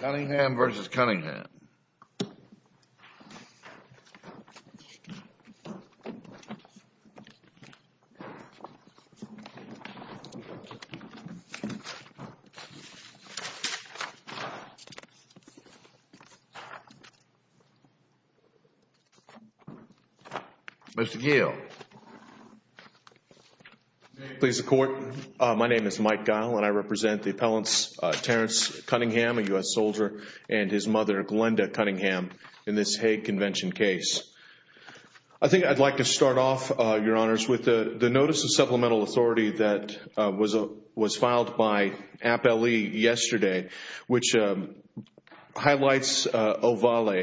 Cunningham v. Cunningham Mr. Gill May it please the Court, my name is Mike Guile and I represent the appellants Terrance Cunningham, a U.S. soldier, and his mother, Glenda Cunningham, in this Hague Convention case. I think I'd like to start off, Your Honors, with the notice of supplemental authority that was filed by Appellee yesterday, which highlights Ovalle,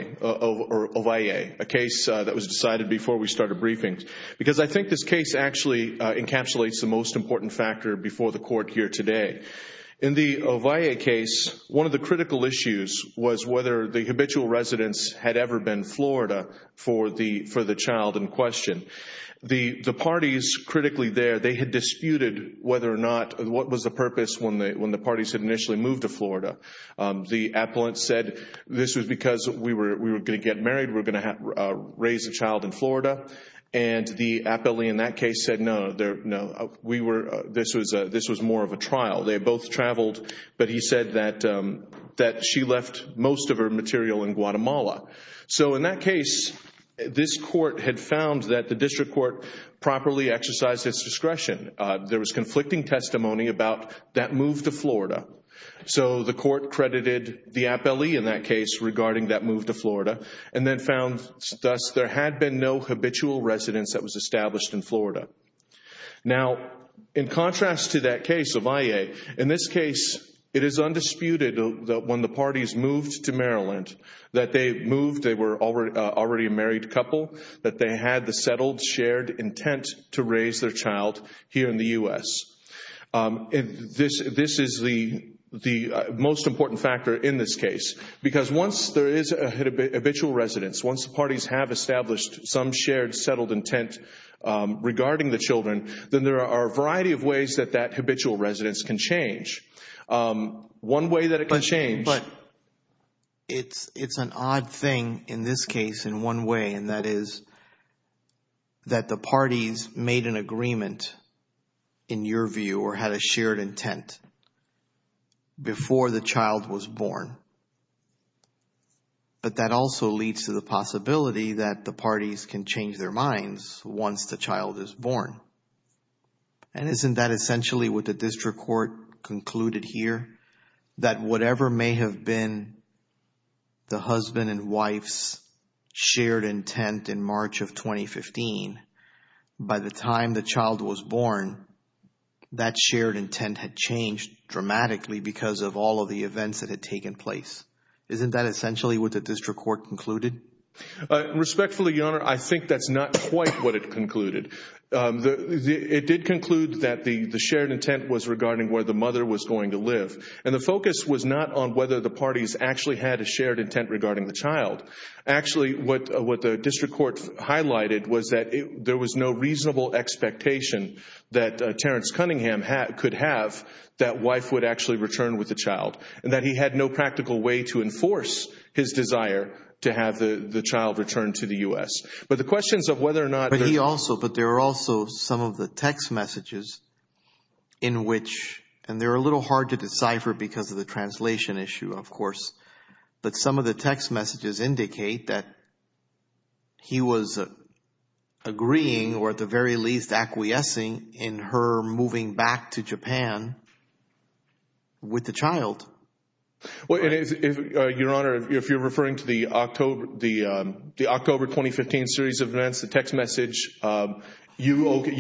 a case that was decided before we started briefings. Because I think this case actually encapsulates the most important factor before the Court here today. In the Ovalle case, one of the critical issues was whether the habitual residence had ever been Florida for the child in question. The parties critically there, they had disputed whether or not, what was the purpose when the parties had initially moved to Florida. The appellant said this was because we were going to get married, we were going to raise a child in Florida, and the appellee in that case said no, this was more of a trial. They had both traveled, but he said that she left most of her material in Guatemala. So in that case, this Court had found that the District Court properly exercised its discretion. There was conflicting testimony about that move to Florida. So the Court credited the appellee in that case regarding that move to Florida, and then found thus there had been no habitual residence that was established in Florida. Now in contrast to that case, Ovalle, in this case it is undisputed that when the parties moved to Maryland, that they moved, they were already a married couple, that they had the settled, shared intent to raise their child here in the U.S. This is the most important factor in this case. Because once there is a habitual residence, once the parties have established some shared, settled intent regarding the children, then there are a variety of ways that that habitual residence can change. One way that it can change... But it's an odd thing in this case in one way, and that is that the parties made an But that also leads to the possibility that the parties can change their minds once the child is born. And isn't that essentially what the District Court concluded here? That whatever may have been the husband and wife's shared intent in March of 2015, by the time the child was born, that shared intent had changed dramatically because of all of the events that had taken place. Isn't that essentially what the District Court concluded? Respectfully, Your Honor, I think that's not quite what it concluded. It did conclude that the shared intent was regarding where the mother was going to live. And the focus was not on whether the parties actually had a shared intent regarding the child. Actually, what the District Court highlighted was that there was no reasonable expectation that Terrence Cunningham could have that wife would actually return with the child, and that he had no practical way to enforce his desire to have the child return to the U.S. But the questions of whether or not... But he also... But there are also some of the text messages in which... And they're a little hard to decipher because of the translation issue, of course. But some of the text messages indicate that he was agreeing, or at the very least, acquiescing in her moving back to Japan with the child. Well, Your Honor, if you're referring to the October 2015 series of events, the text message, you okay,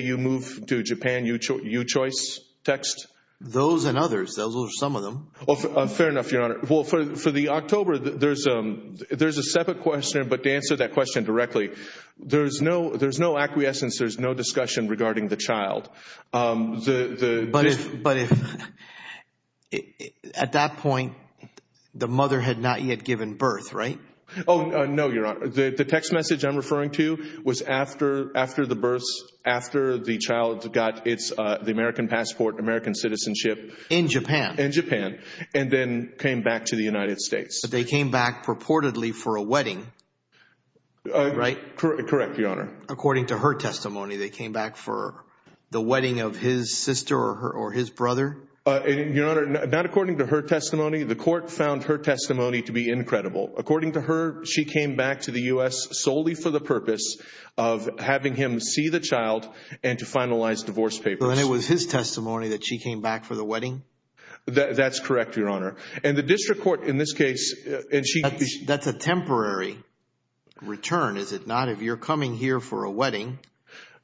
you move to Japan, you choice text? Those and others. Those are some of them. Fair enough, Your Honor. For the October, there's a separate question, but to answer that question directly, there's no acquiescence, there's no discussion regarding the child. But at that point, the mother had not yet given birth, right? Oh, no, Your Honor. The text message I'm referring to was after the births, after the child got the American passport, American citizenship. In Japan? In Japan. In Japan. And then came back to the United States. But they came back purportedly for a wedding, right? Correct, Your Honor. According to her testimony, they came back for the wedding of his sister or his brother? Your Honor, not according to her testimony. The court found her testimony to be incredible. According to her, she came back to the U.S. solely for the purpose of having him see the child and to finalize divorce papers. So then it was his testimony that she came back for the wedding? That's correct, Your Honor. And the district court, in this case, and she... That's a temporary return, is it not? If you're coming here for a wedding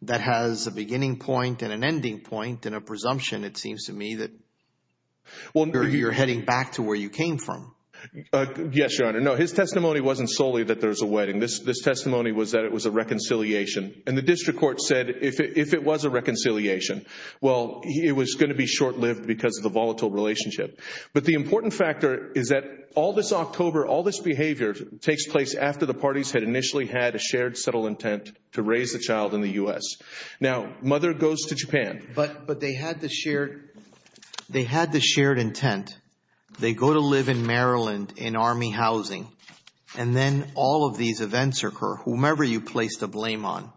that has a beginning point and an ending point and a presumption, it seems to me that you're heading back to where you came from. Yes, Your Honor. No, his testimony wasn't solely that there was a wedding. This testimony was that it was a reconciliation. And the district court said if it was a reconciliation, well, it was going to be short-lived because of the volatile relationship. But the important factor is that all this October, all this behavior takes place after the parties had initially had a shared subtle intent to raise the child in the U.S. Now, mother goes to Japan. But they had the shared... They had the shared intent. They go to live in Maryland in Army housing. And then all of these events occur, whomever you place the blame on.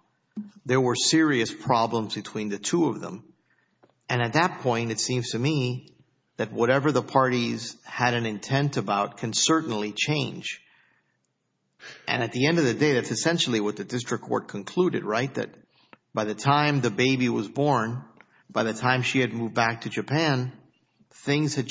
There were serious problems between the two of them. And at that point, it seems to me that whatever the parties had an intent about can certainly change. And at the end of the day, that's essentially what the district court concluded, right? That by the time the baby was born, by the time she had moved back to Japan, things had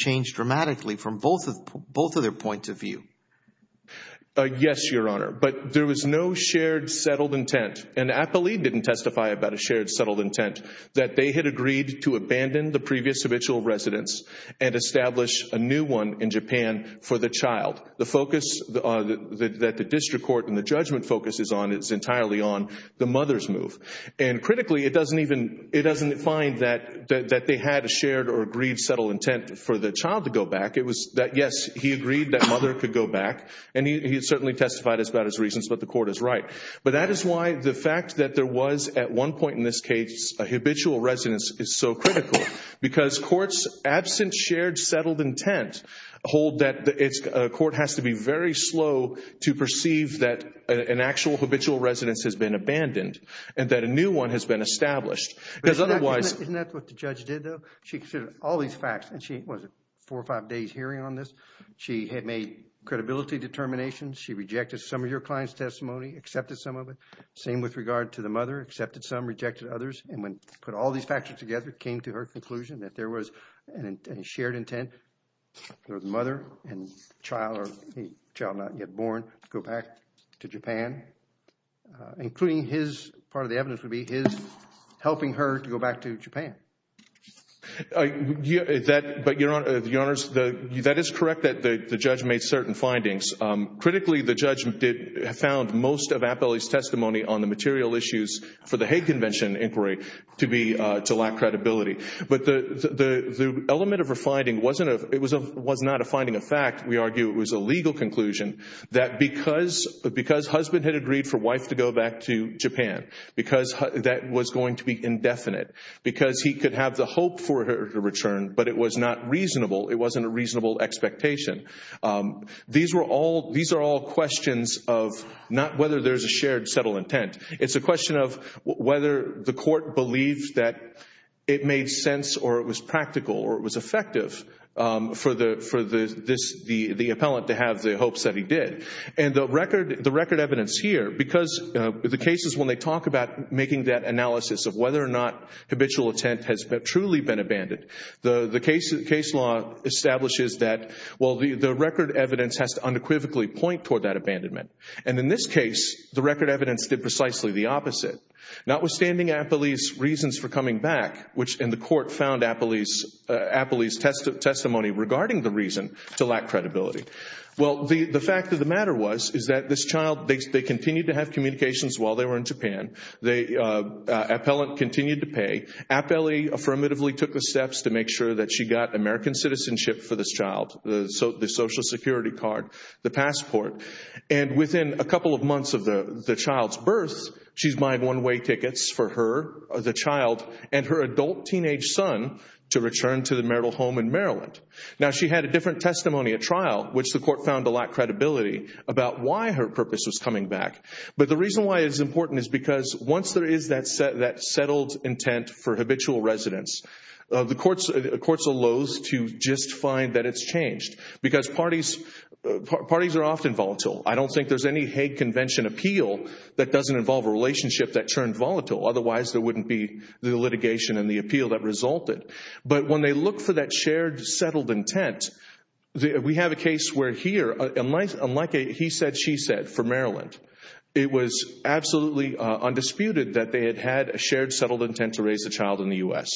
Yes, Your Honor. But there was no shared settled intent. And Apolli didn't testify about a shared settled intent, that they had agreed to abandon the previous habitual residence and establish a new one in Japan for the child. The focus that the district court and the judgment focuses on is entirely on the mother's move. And critically, it doesn't even... It doesn't define that they had a shared or agreed settled intent for the child to go back. It was that, yes, he agreed that mother could go back. And he certainly testified about his reasons, but the court is right. But that is why the fact that there was, at one point in this case, a habitual residence is so critical, because courts absent shared settled intent hold that a court has to be very slow to perceive that an actual habitual residence has been abandoned and that a new one has been established. Because otherwise... Isn't that what the judge did though? She considered all these facts, and she was four or five days hearing on this. She had made credibility determinations. She rejected some of your client's testimony, accepted some of it. Same with regard to the mother, accepted some, rejected others. And when put all these factors together, came to her conclusion that there was a shared intent for the mother and child, or the child not yet born, to go back to Japan, including his, part of the evidence would be his, helping her to go back to Japan. Your Honor, that is correct that the judge made certain findings. Critically, the judge found most of Appelli's testimony on the material issues for the Hague Convention inquiry to lack credibility. But the element of her finding was not a finding of fact. We argue it was a legal conclusion that because husband had agreed for wife to go back to Japan, because that was going to be indefinite, because he could have the hope for her to return, but it was not reasonable. It wasn't a reasonable expectation. These were all, these are all questions of not whether there's a shared subtle intent. It's a question of whether the court believed that it made sense or it was practical or it was effective for the appellant to have the hopes that he did. And the record evidence here, because the cases when they talk about making that analysis of whether or not habitual intent has truly been abandoned, the case law establishes that well, the record evidence has to unequivocally point toward that abandonment. And in this case, the record evidence did precisely the opposite. Notwithstanding Appelli's reasons for coming back, which in the court found Appelli's testimony regarding the reason to lack credibility. Well, the fact of the matter was, is that this child, they continued to have communications while they were in Japan. The appellant continued to pay. Appelli affirmatively took the steps to make sure that she got American citizenship for this child, the social security card, the passport. And within a couple of months of the child's birth, she's buying one-way tickets for her, the child, and her adult teenage son to return to the marital home in Maryland. Now, she had a different testimony at trial, which the court found to lack credibility about why her purpose was coming back. But the reason why it's important is because once there is that settled intent for habitual residence, the courts allows to just find that it's changed. Because parties are often volatile. I don't think there's any Hague Convention appeal that doesn't involve a relationship that turned volatile. Otherwise, there wouldn't be the litigation and the appeal that resulted. But when they look for that shared, settled intent, we have a case where here, unlike a he said, she said for Maryland, it was absolutely undisputed that they had had a shared, settled intent to raise a child in the U.S.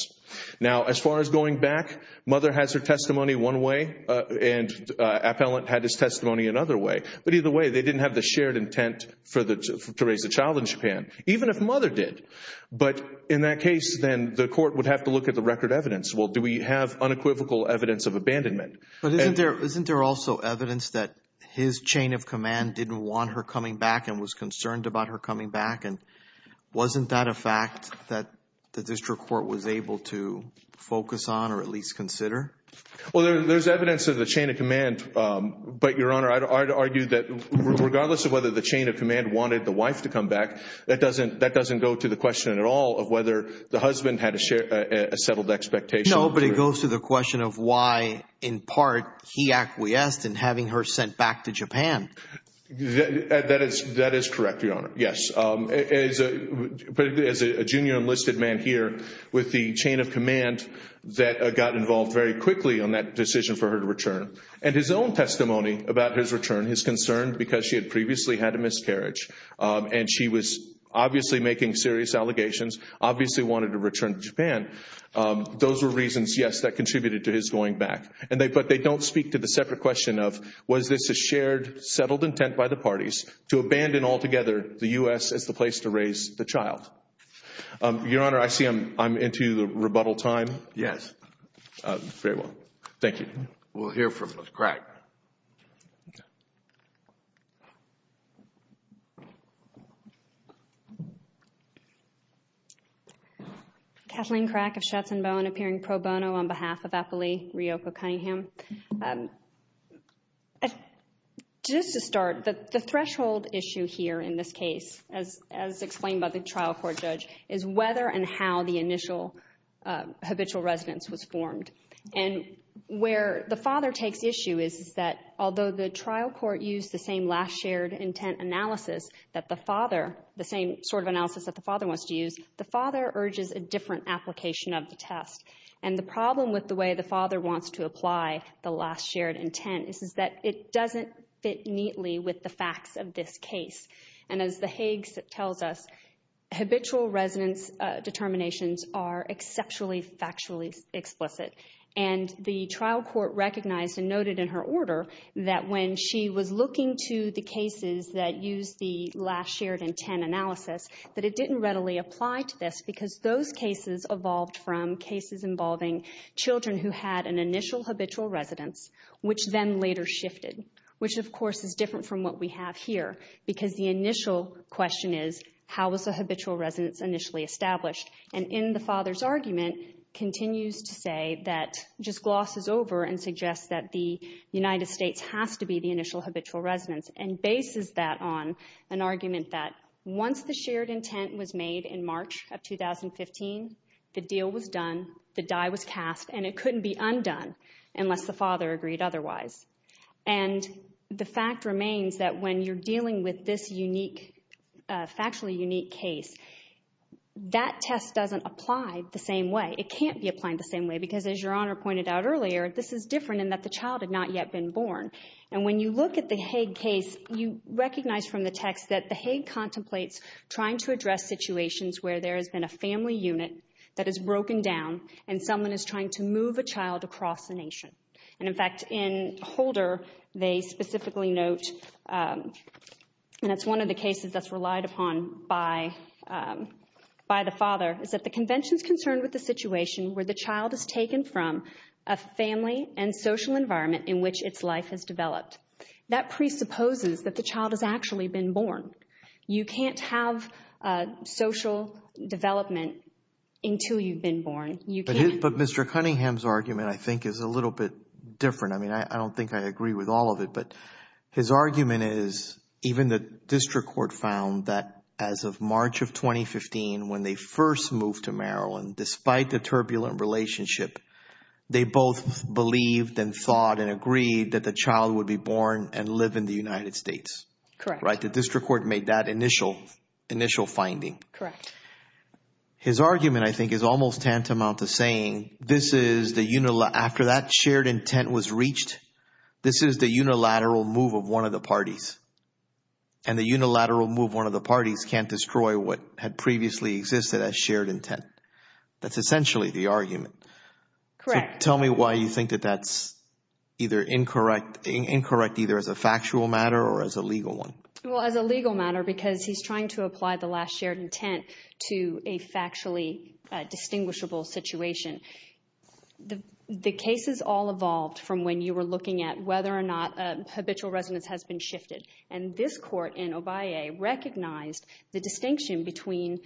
Now, as far as going back, mother has her testimony one way, and appellant had his testimony another way. But either way, they didn't have the shared intent to raise a child in Japan. Even if mother did. But in that case, then, the court would have to look at the record evidence. Well, do we have unequivocal evidence of abandonment? But isn't there also evidence that his chain of command didn't want her coming back and was concerned about her coming back? And wasn't that a fact that the district court was able to focus on or at least consider? Well, there's evidence of the chain of command. But Your Honor, I'd argue that regardless of whether the chain of command wanted the That doesn't go to the question at all of whether the husband had a settled expectation. No, but it goes to the question of why, in part, he acquiesced in having her sent back to Japan. That is correct, Your Honor. Yes. As a junior enlisted man here with the chain of command that got involved very quickly on that decision for her to return. And his own testimony about his return, his concern because she had previously had a miscarriage and she was obviously making serious allegations, obviously wanted to return to Japan. Those were reasons, yes, that contributed to his going back. But they don't speak to the separate question of was this a shared, settled intent by the parties to abandon altogether the U.S. as the place to raise the child? Your Honor, I see I'm into the rebuttal time. Yes. Thank you. We'll hear from Ms. Crack. Okay. Kathleen Crack of Shetson Bowen, appearing pro bono on behalf of Apolli Riopo Cunningham. Just to start, the threshold issue here in this case, as explained by the trial court judge, is whether and how the initial habitual residence was formed. And where the father takes issue is that although the trial court used the same last shared intent analysis that the father, the same sort of analysis that the father wants to use, the father urges a different application of the test. And the problem with the way the father wants to apply the last shared intent is that it doesn't fit neatly with the facts of this case. And as the Hague tells us, habitual residence determinations are exceptionally factually explicit. And the trial court recognized and noted in her order that when she was looking to the cases that used the last shared intent analysis, that it didn't readily apply to this because those cases evolved from cases involving children who had an initial habitual residence, which then later shifted, which of course is different from what we have here, because the initial question is, how was the habitual residence initially established? And in the father's argument, continues to say that, just glosses over and suggests that the United States has to be the initial habitual residence, and bases that on an argument that once the shared intent was made in March of 2015, the deal was done, the die was cast, and it couldn't be undone unless the father agreed otherwise. And the fact remains that when you're dealing with this unique, factually unique case, that test doesn't apply the same way. It can't be applied the same way, because as Your Honor pointed out earlier, this is different in that the child had not yet been born. And when you look at the Hague case, you recognize from the text that the Hague contemplates trying to address situations where there has been a family unit that has broken down and someone is trying to move a child across the nation. And in fact, in Holder, they specifically note, and it's one of the cases that's relied upon by the father, is that the convention's concerned with the situation where the child is taken from a family and social environment in which its life has developed. That presupposes that the child has actually been born. You can't have social development until you've been born. But Mr. Cunningham's argument, I think, is a little bit different. I mean, I don't think I agree with all of it, but his argument is, even the district court found that as of March of 2015, when they first moved to Maryland, despite the turbulent relationship, they both believed and thought and agreed that the child would be born and live in the United States, right? The district court made that initial finding. Correct. His argument, I think, is almost tantamount to saying, after that shared intent was reached, this is the unilateral move of one of the parties. And the unilateral move of one of the parties can't destroy what had previously existed as shared intent. That's essentially the argument. Correct. So tell me why you think that that's either incorrect, either as a factual matter or as a legal one. Well, as a legal matter, because he's trying to apply the last shared intent to a factually distinguishable situation. The case is all evolved from when you were looking at whether or not a habitual residence has been shifted. And this court in Obaye recognized the distinction between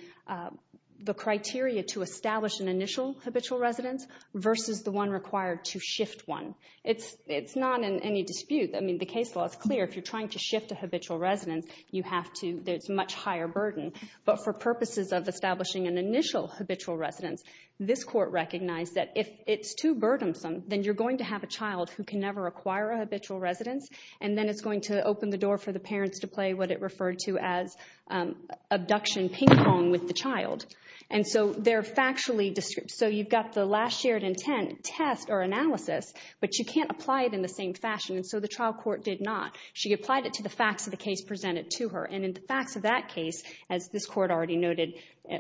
the criteria to establish an initial habitual residence versus the one required to shift one. It's not in any dispute. I mean, the case law is clear. If you're trying to shift a habitual residence, there's much higher burden. But for purposes of establishing an initial habitual residence, this court recognized that if it's too burdensome, then you're going to have a child who can never acquire a habitual residence. And then it's going to open the door for the parents to play what it referred to as abduction ping pong with the child. And so they're factually distinct. So you've got the last shared intent test or analysis, but you can't apply it in the same fashion. And so the trial court did not. She applied it to the facts of the case presented to her. And in the facts of that case, as this court already noted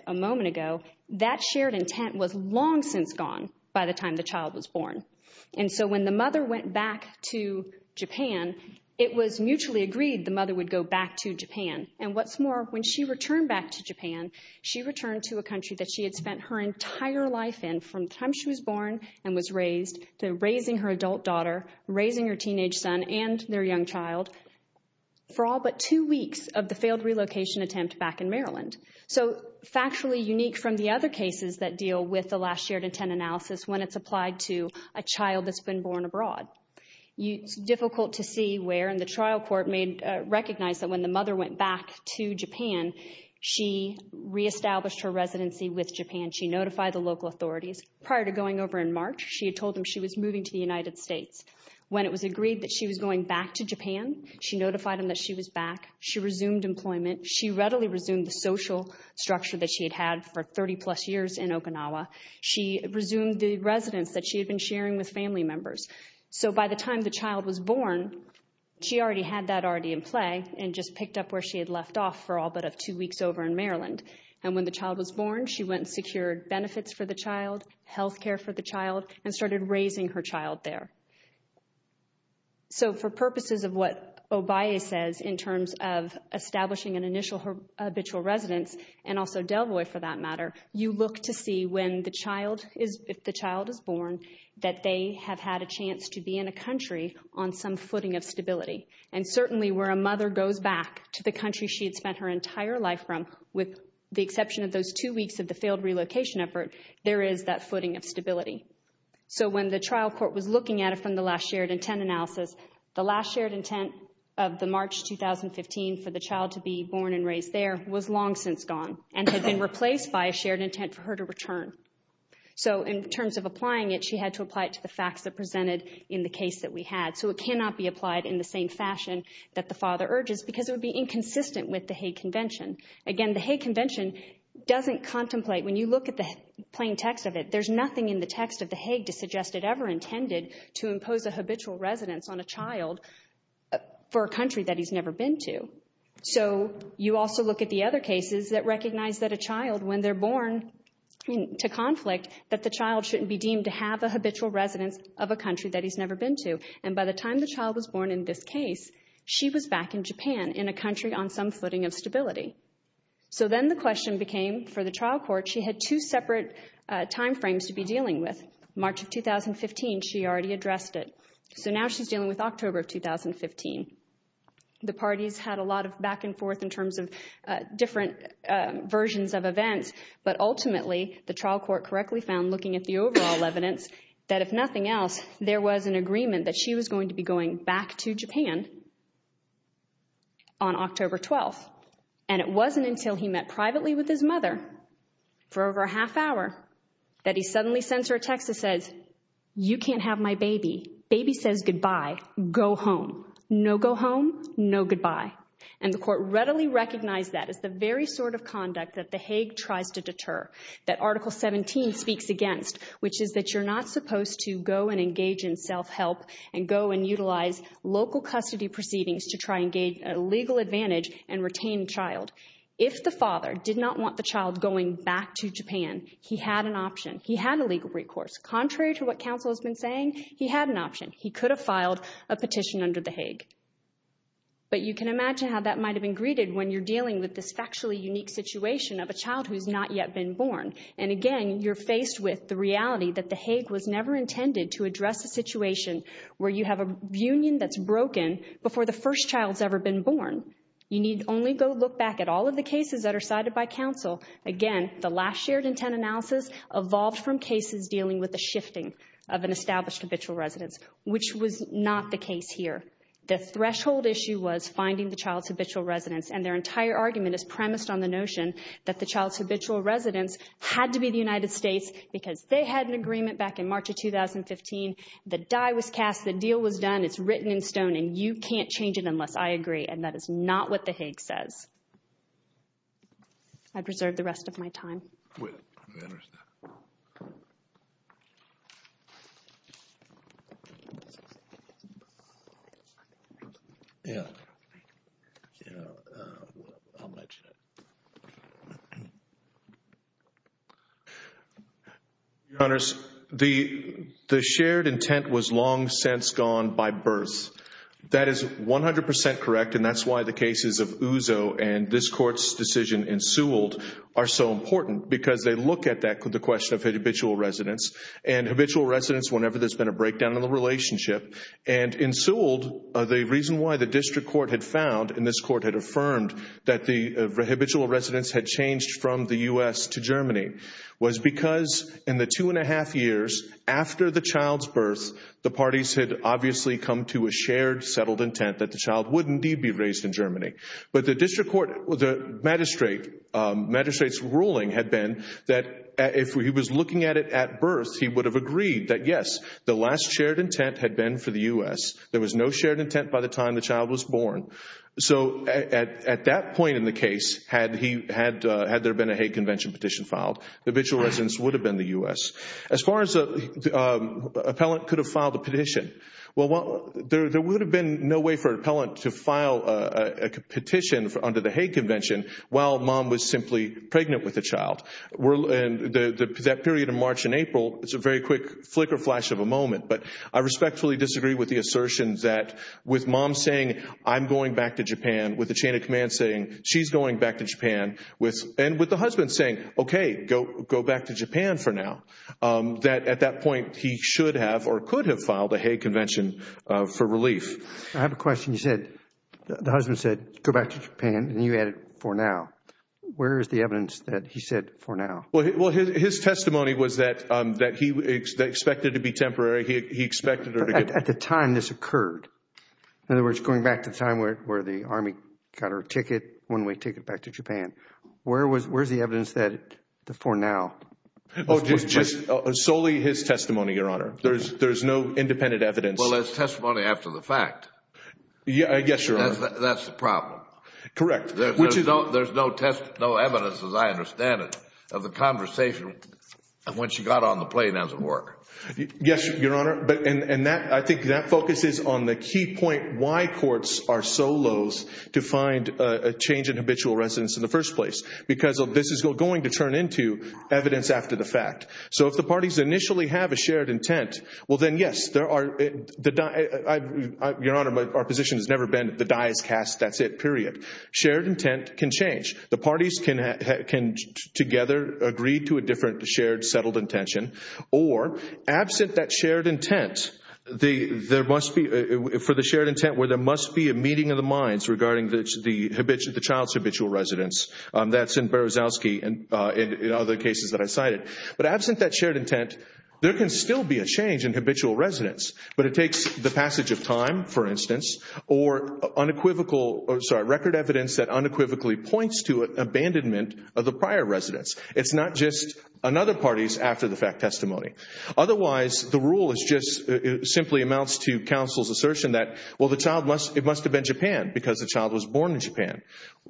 a moment ago, that shared intent was long since gone by the time the child was born. And so when the mother went back to Japan, it was mutually agreed the mother would go back to Japan. And what's more, when she returned back to Japan, she returned to a country that she had spent her entire life in from the time she was born and was raised to raising her teenage son and their young child for all but two weeks of the failed relocation attempt back in Maryland. So factually unique from the other cases that deal with the last shared intent analysis when it's applied to a child that's been born abroad. It's difficult to see where, and the trial court recognized that when the mother went back to Japan, she reestablished her residency with Japan. She notified the local authorities. Prior to going over in March, she had told them she was moving to the United States. When it was agreed that she was going back to Japan, she notified them that she was back. She resumed employment. She readily resumed the social structure that she had had for 30-plus years in Okinawa. She resumed the residence that she had been sharing with family members. So by the time the child was born, she already had that already in play and just picked up where she had left off for all but two weeks over in Maryland. And when the child was born, she went and secured benefits for the child, health care for the child, and started raising her child there. So for purposes of what Obaye says in terms of establishing an initial habitual residence, and also Delvoy for that matter, you look to see when the child is, if the child is born, that they have had a chance to be in a country on some footing of stability. And certainly where a mother goes back to the country she had spent her entire life from, with the exception of those two weeks of the failed relocation effort, there is that footing of stability. So when the trial court was looking at it from the last shared intent analysis, the last shared intent of the March 2015 for the child to be born and raised there was long since gone and had been replaced by a shared intent for her to return. So in terms of applying it, she had to apply it to the facts that presented in the case that we had. So it cannot be applied in the same fashion that the father urges because it would be inconsistent with the Hague Convention. Again, the Hague Convention doesn't contemplate, when you look at the plain text of it, there's nothing in the text of the Hague to suggest it ever intended to impose a habitual residence on a child for a country that he's never been to. So you also look at the other cases that recognize that a child, when they're born to conflict, that the child shouldn't be deemed to have a habitual residence of a country that he's never been to. And by the time the child was born in this case, she was back in Japan in a country on some footing of stability. So then the question became, for the trial court, she had two separate time frames to be dealing with. March of 2015, she already addressed it. So now she's dealing with October of 2015. The parties had a lot of back and forth in terms of different versions of events. But ultimately, the trial court correctly found, looking at the overall evidence, that if nothing else, there was an agreement that she was going to be going back to Japan on October 12. And it wasn't until he met privately with his mother for over a half hour that he suddenly sends her a text that says, you can't have my baby. Baby says goodbye. Go home. No go home, no goodbye. And the court readily recognized that as the very sort of conduct that the Hague tries to deter, that Article 17 speaks against, which is that you're not supposed to go and child. If the father did not want the child going back to Japan, he had an option. He had a legal recourse. Contrary to what counsel has been saying, he had an option. He could have filed a petition under the Hague. But you can imagine how that might have been greeted when you're dealing with this factually unique situation of a child who's not yet been born. And again, you're faced with the reality that the Hague was never intended to address a that's broken before the first child's ever been born. You need only go look back at all of the cases that are cited by counsel. Again, the last shared intent analysis evolved from cases dealing with the shifting of an established habitual residence, which was not the case here. The threshold issue was finding the child's habitual residence. And their entire argument is premised on the notion that the child's habitual residence had to be the United States because they had an agreement back in March of 2015. The die was cast. The deal was done. It's written in stone and you can't change it unless I agree. And that is not what the Hague says. I preserve the rest of my time. Wait. Let me finish that. Your Honors, the shared intent was long since gone by birth. That is 100% correct and that's why the cases of Uzo and this court's decision in Sewell are so important because they look at the question of habitual residence and habitual residence whenever there's been a breakdown in the relationship. And in Sewell, the reason why the district court had found and this court had affirmed that the habitual residence had changed from the U.S. to Germany was because in the two and a half years after the child's birth, the parties had obviously come to a shared But the district court, the magistrate's ruling had been that if he was looking at it at birth, he would have agreed that yes, the last shared intent had been for the U.S. There was no shared intent by the time the child was born. So at that point in the case, had there been a Hague Convention petition filed, the habitual residence would have been the U.S. As far as the appellant could have filed a petition, well, there would have been no way for an appellant to file a petition under the Hague Convention while mom was simply pregnant with a child. That period of March and April, it's a very quick flicker flash of a moment, but I respectfully disagree with the assertions that with mom saying, I'm going back to Japan, with the chain of command saying, she's going back to Japan, and with the husband saying, okay, go back to Japan for now, that at that point, he should have or could have filed a Hague Convention for relief. I have a question. You said, the husband said, go back to Japan, and you added, for now. Where is the evidence that he said, for now? Well, his testimony was that he expected it to be temporary. He expected her to get... At the time this occurred, in other words, going back to the time where the Army got her ticket, one-way ticket back to Japan, where is the evidence that the for now? Just solely his testimony, Your Honor. There's no independent evidence. Well, it's testimony after the fact. Yes, Your Honor. That's the problem. Correct. Which is... There's no evidence, as I understand it, of the conversation when she got on the plane as it were. Yes, Your Honor, and I think that focuses on the key point why courts are so loath to find a change in habitual residence in the first place, because this is going to turn into evidence after the fact. So if the parties initially have a shared intent, well then, yes, there are... Your Honor, our position has never been the die is cast, that's it, period. Shared intent can change. The parties can together agree to a different shared, settled intention, or absent that shared intent, there must be... For the shared intent where there must be a meeting of the minds regarding the child's habitual residence. That's in Berezovsky and in other cases that I cited. But absent that shared intent, there can still be a change in habitual residence, but it takes the passage of time, for instance, or unequivocal, sorry, record evidence that unequivocally points to abandonment of the prior residence. It's not just another party's after-the-fact testimony. Otherwise, the rule is just, it simply amounts to counsel's assertion that, well, the child must... It must have been Japan because the child was born in Japan.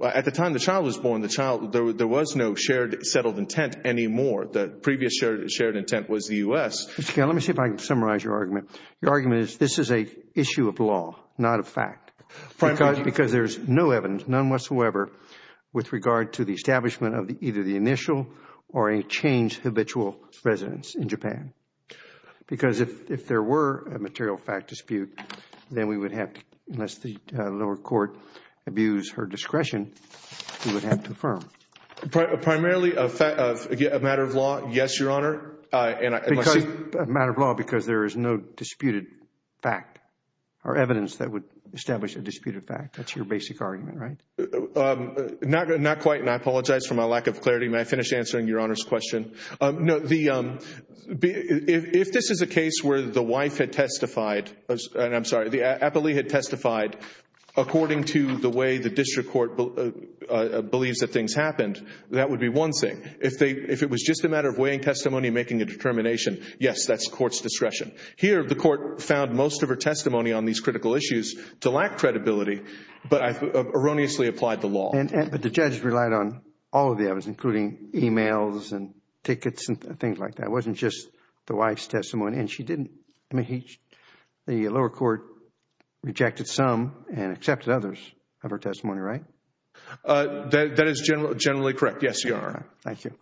At the time the child was born, the child, there was no shared, settled intent anymore. The previous shared intent was the U.S. Mr. Gail, let me see if I can summarize your argument. Your argument is this is an issue of law, not a fact. Because there's no evidence, none whatsoever, with regard to the establishment of either the initial or a changed habitual residence in Japan. Because if there were a material fact dispute, then we would have to, unless the lower court abused her discretion, we would have to affirm. Primarily a matter of law, yes, Your Honor. A matter of law because there is no disputed fact or evidence that would establish a disputed fact. That's your basic argument, right? Not quite, and I apologize for my lack of clarity. May I finish answering Your Honor's question? If this is a case where the wife had testified, and I'm sorry, the appellee had testified according to the way the district court believes that things happened, that would be one thing. If it was just a matter of weighing testimony and making a determination, yes, that's the court's discretion. Here, the court found most of her testimony on these critical issues to lack credibility, but erroneously applied the law. But the judge relied on all of the evidence, including emails and tickets and things like that. It wasn't just the wife's testimony, and she didn't. The lower court rejected some and accepted others of her testimony, right? That is generally correct, yes, Your Honor. Thank you.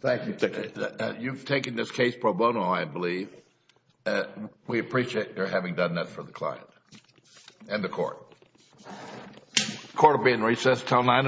Thank you, Dick. You've taken this case pro bono, I believe. We appreciate your having done that for the client and the court. Court will be in recess until 9 in the morning.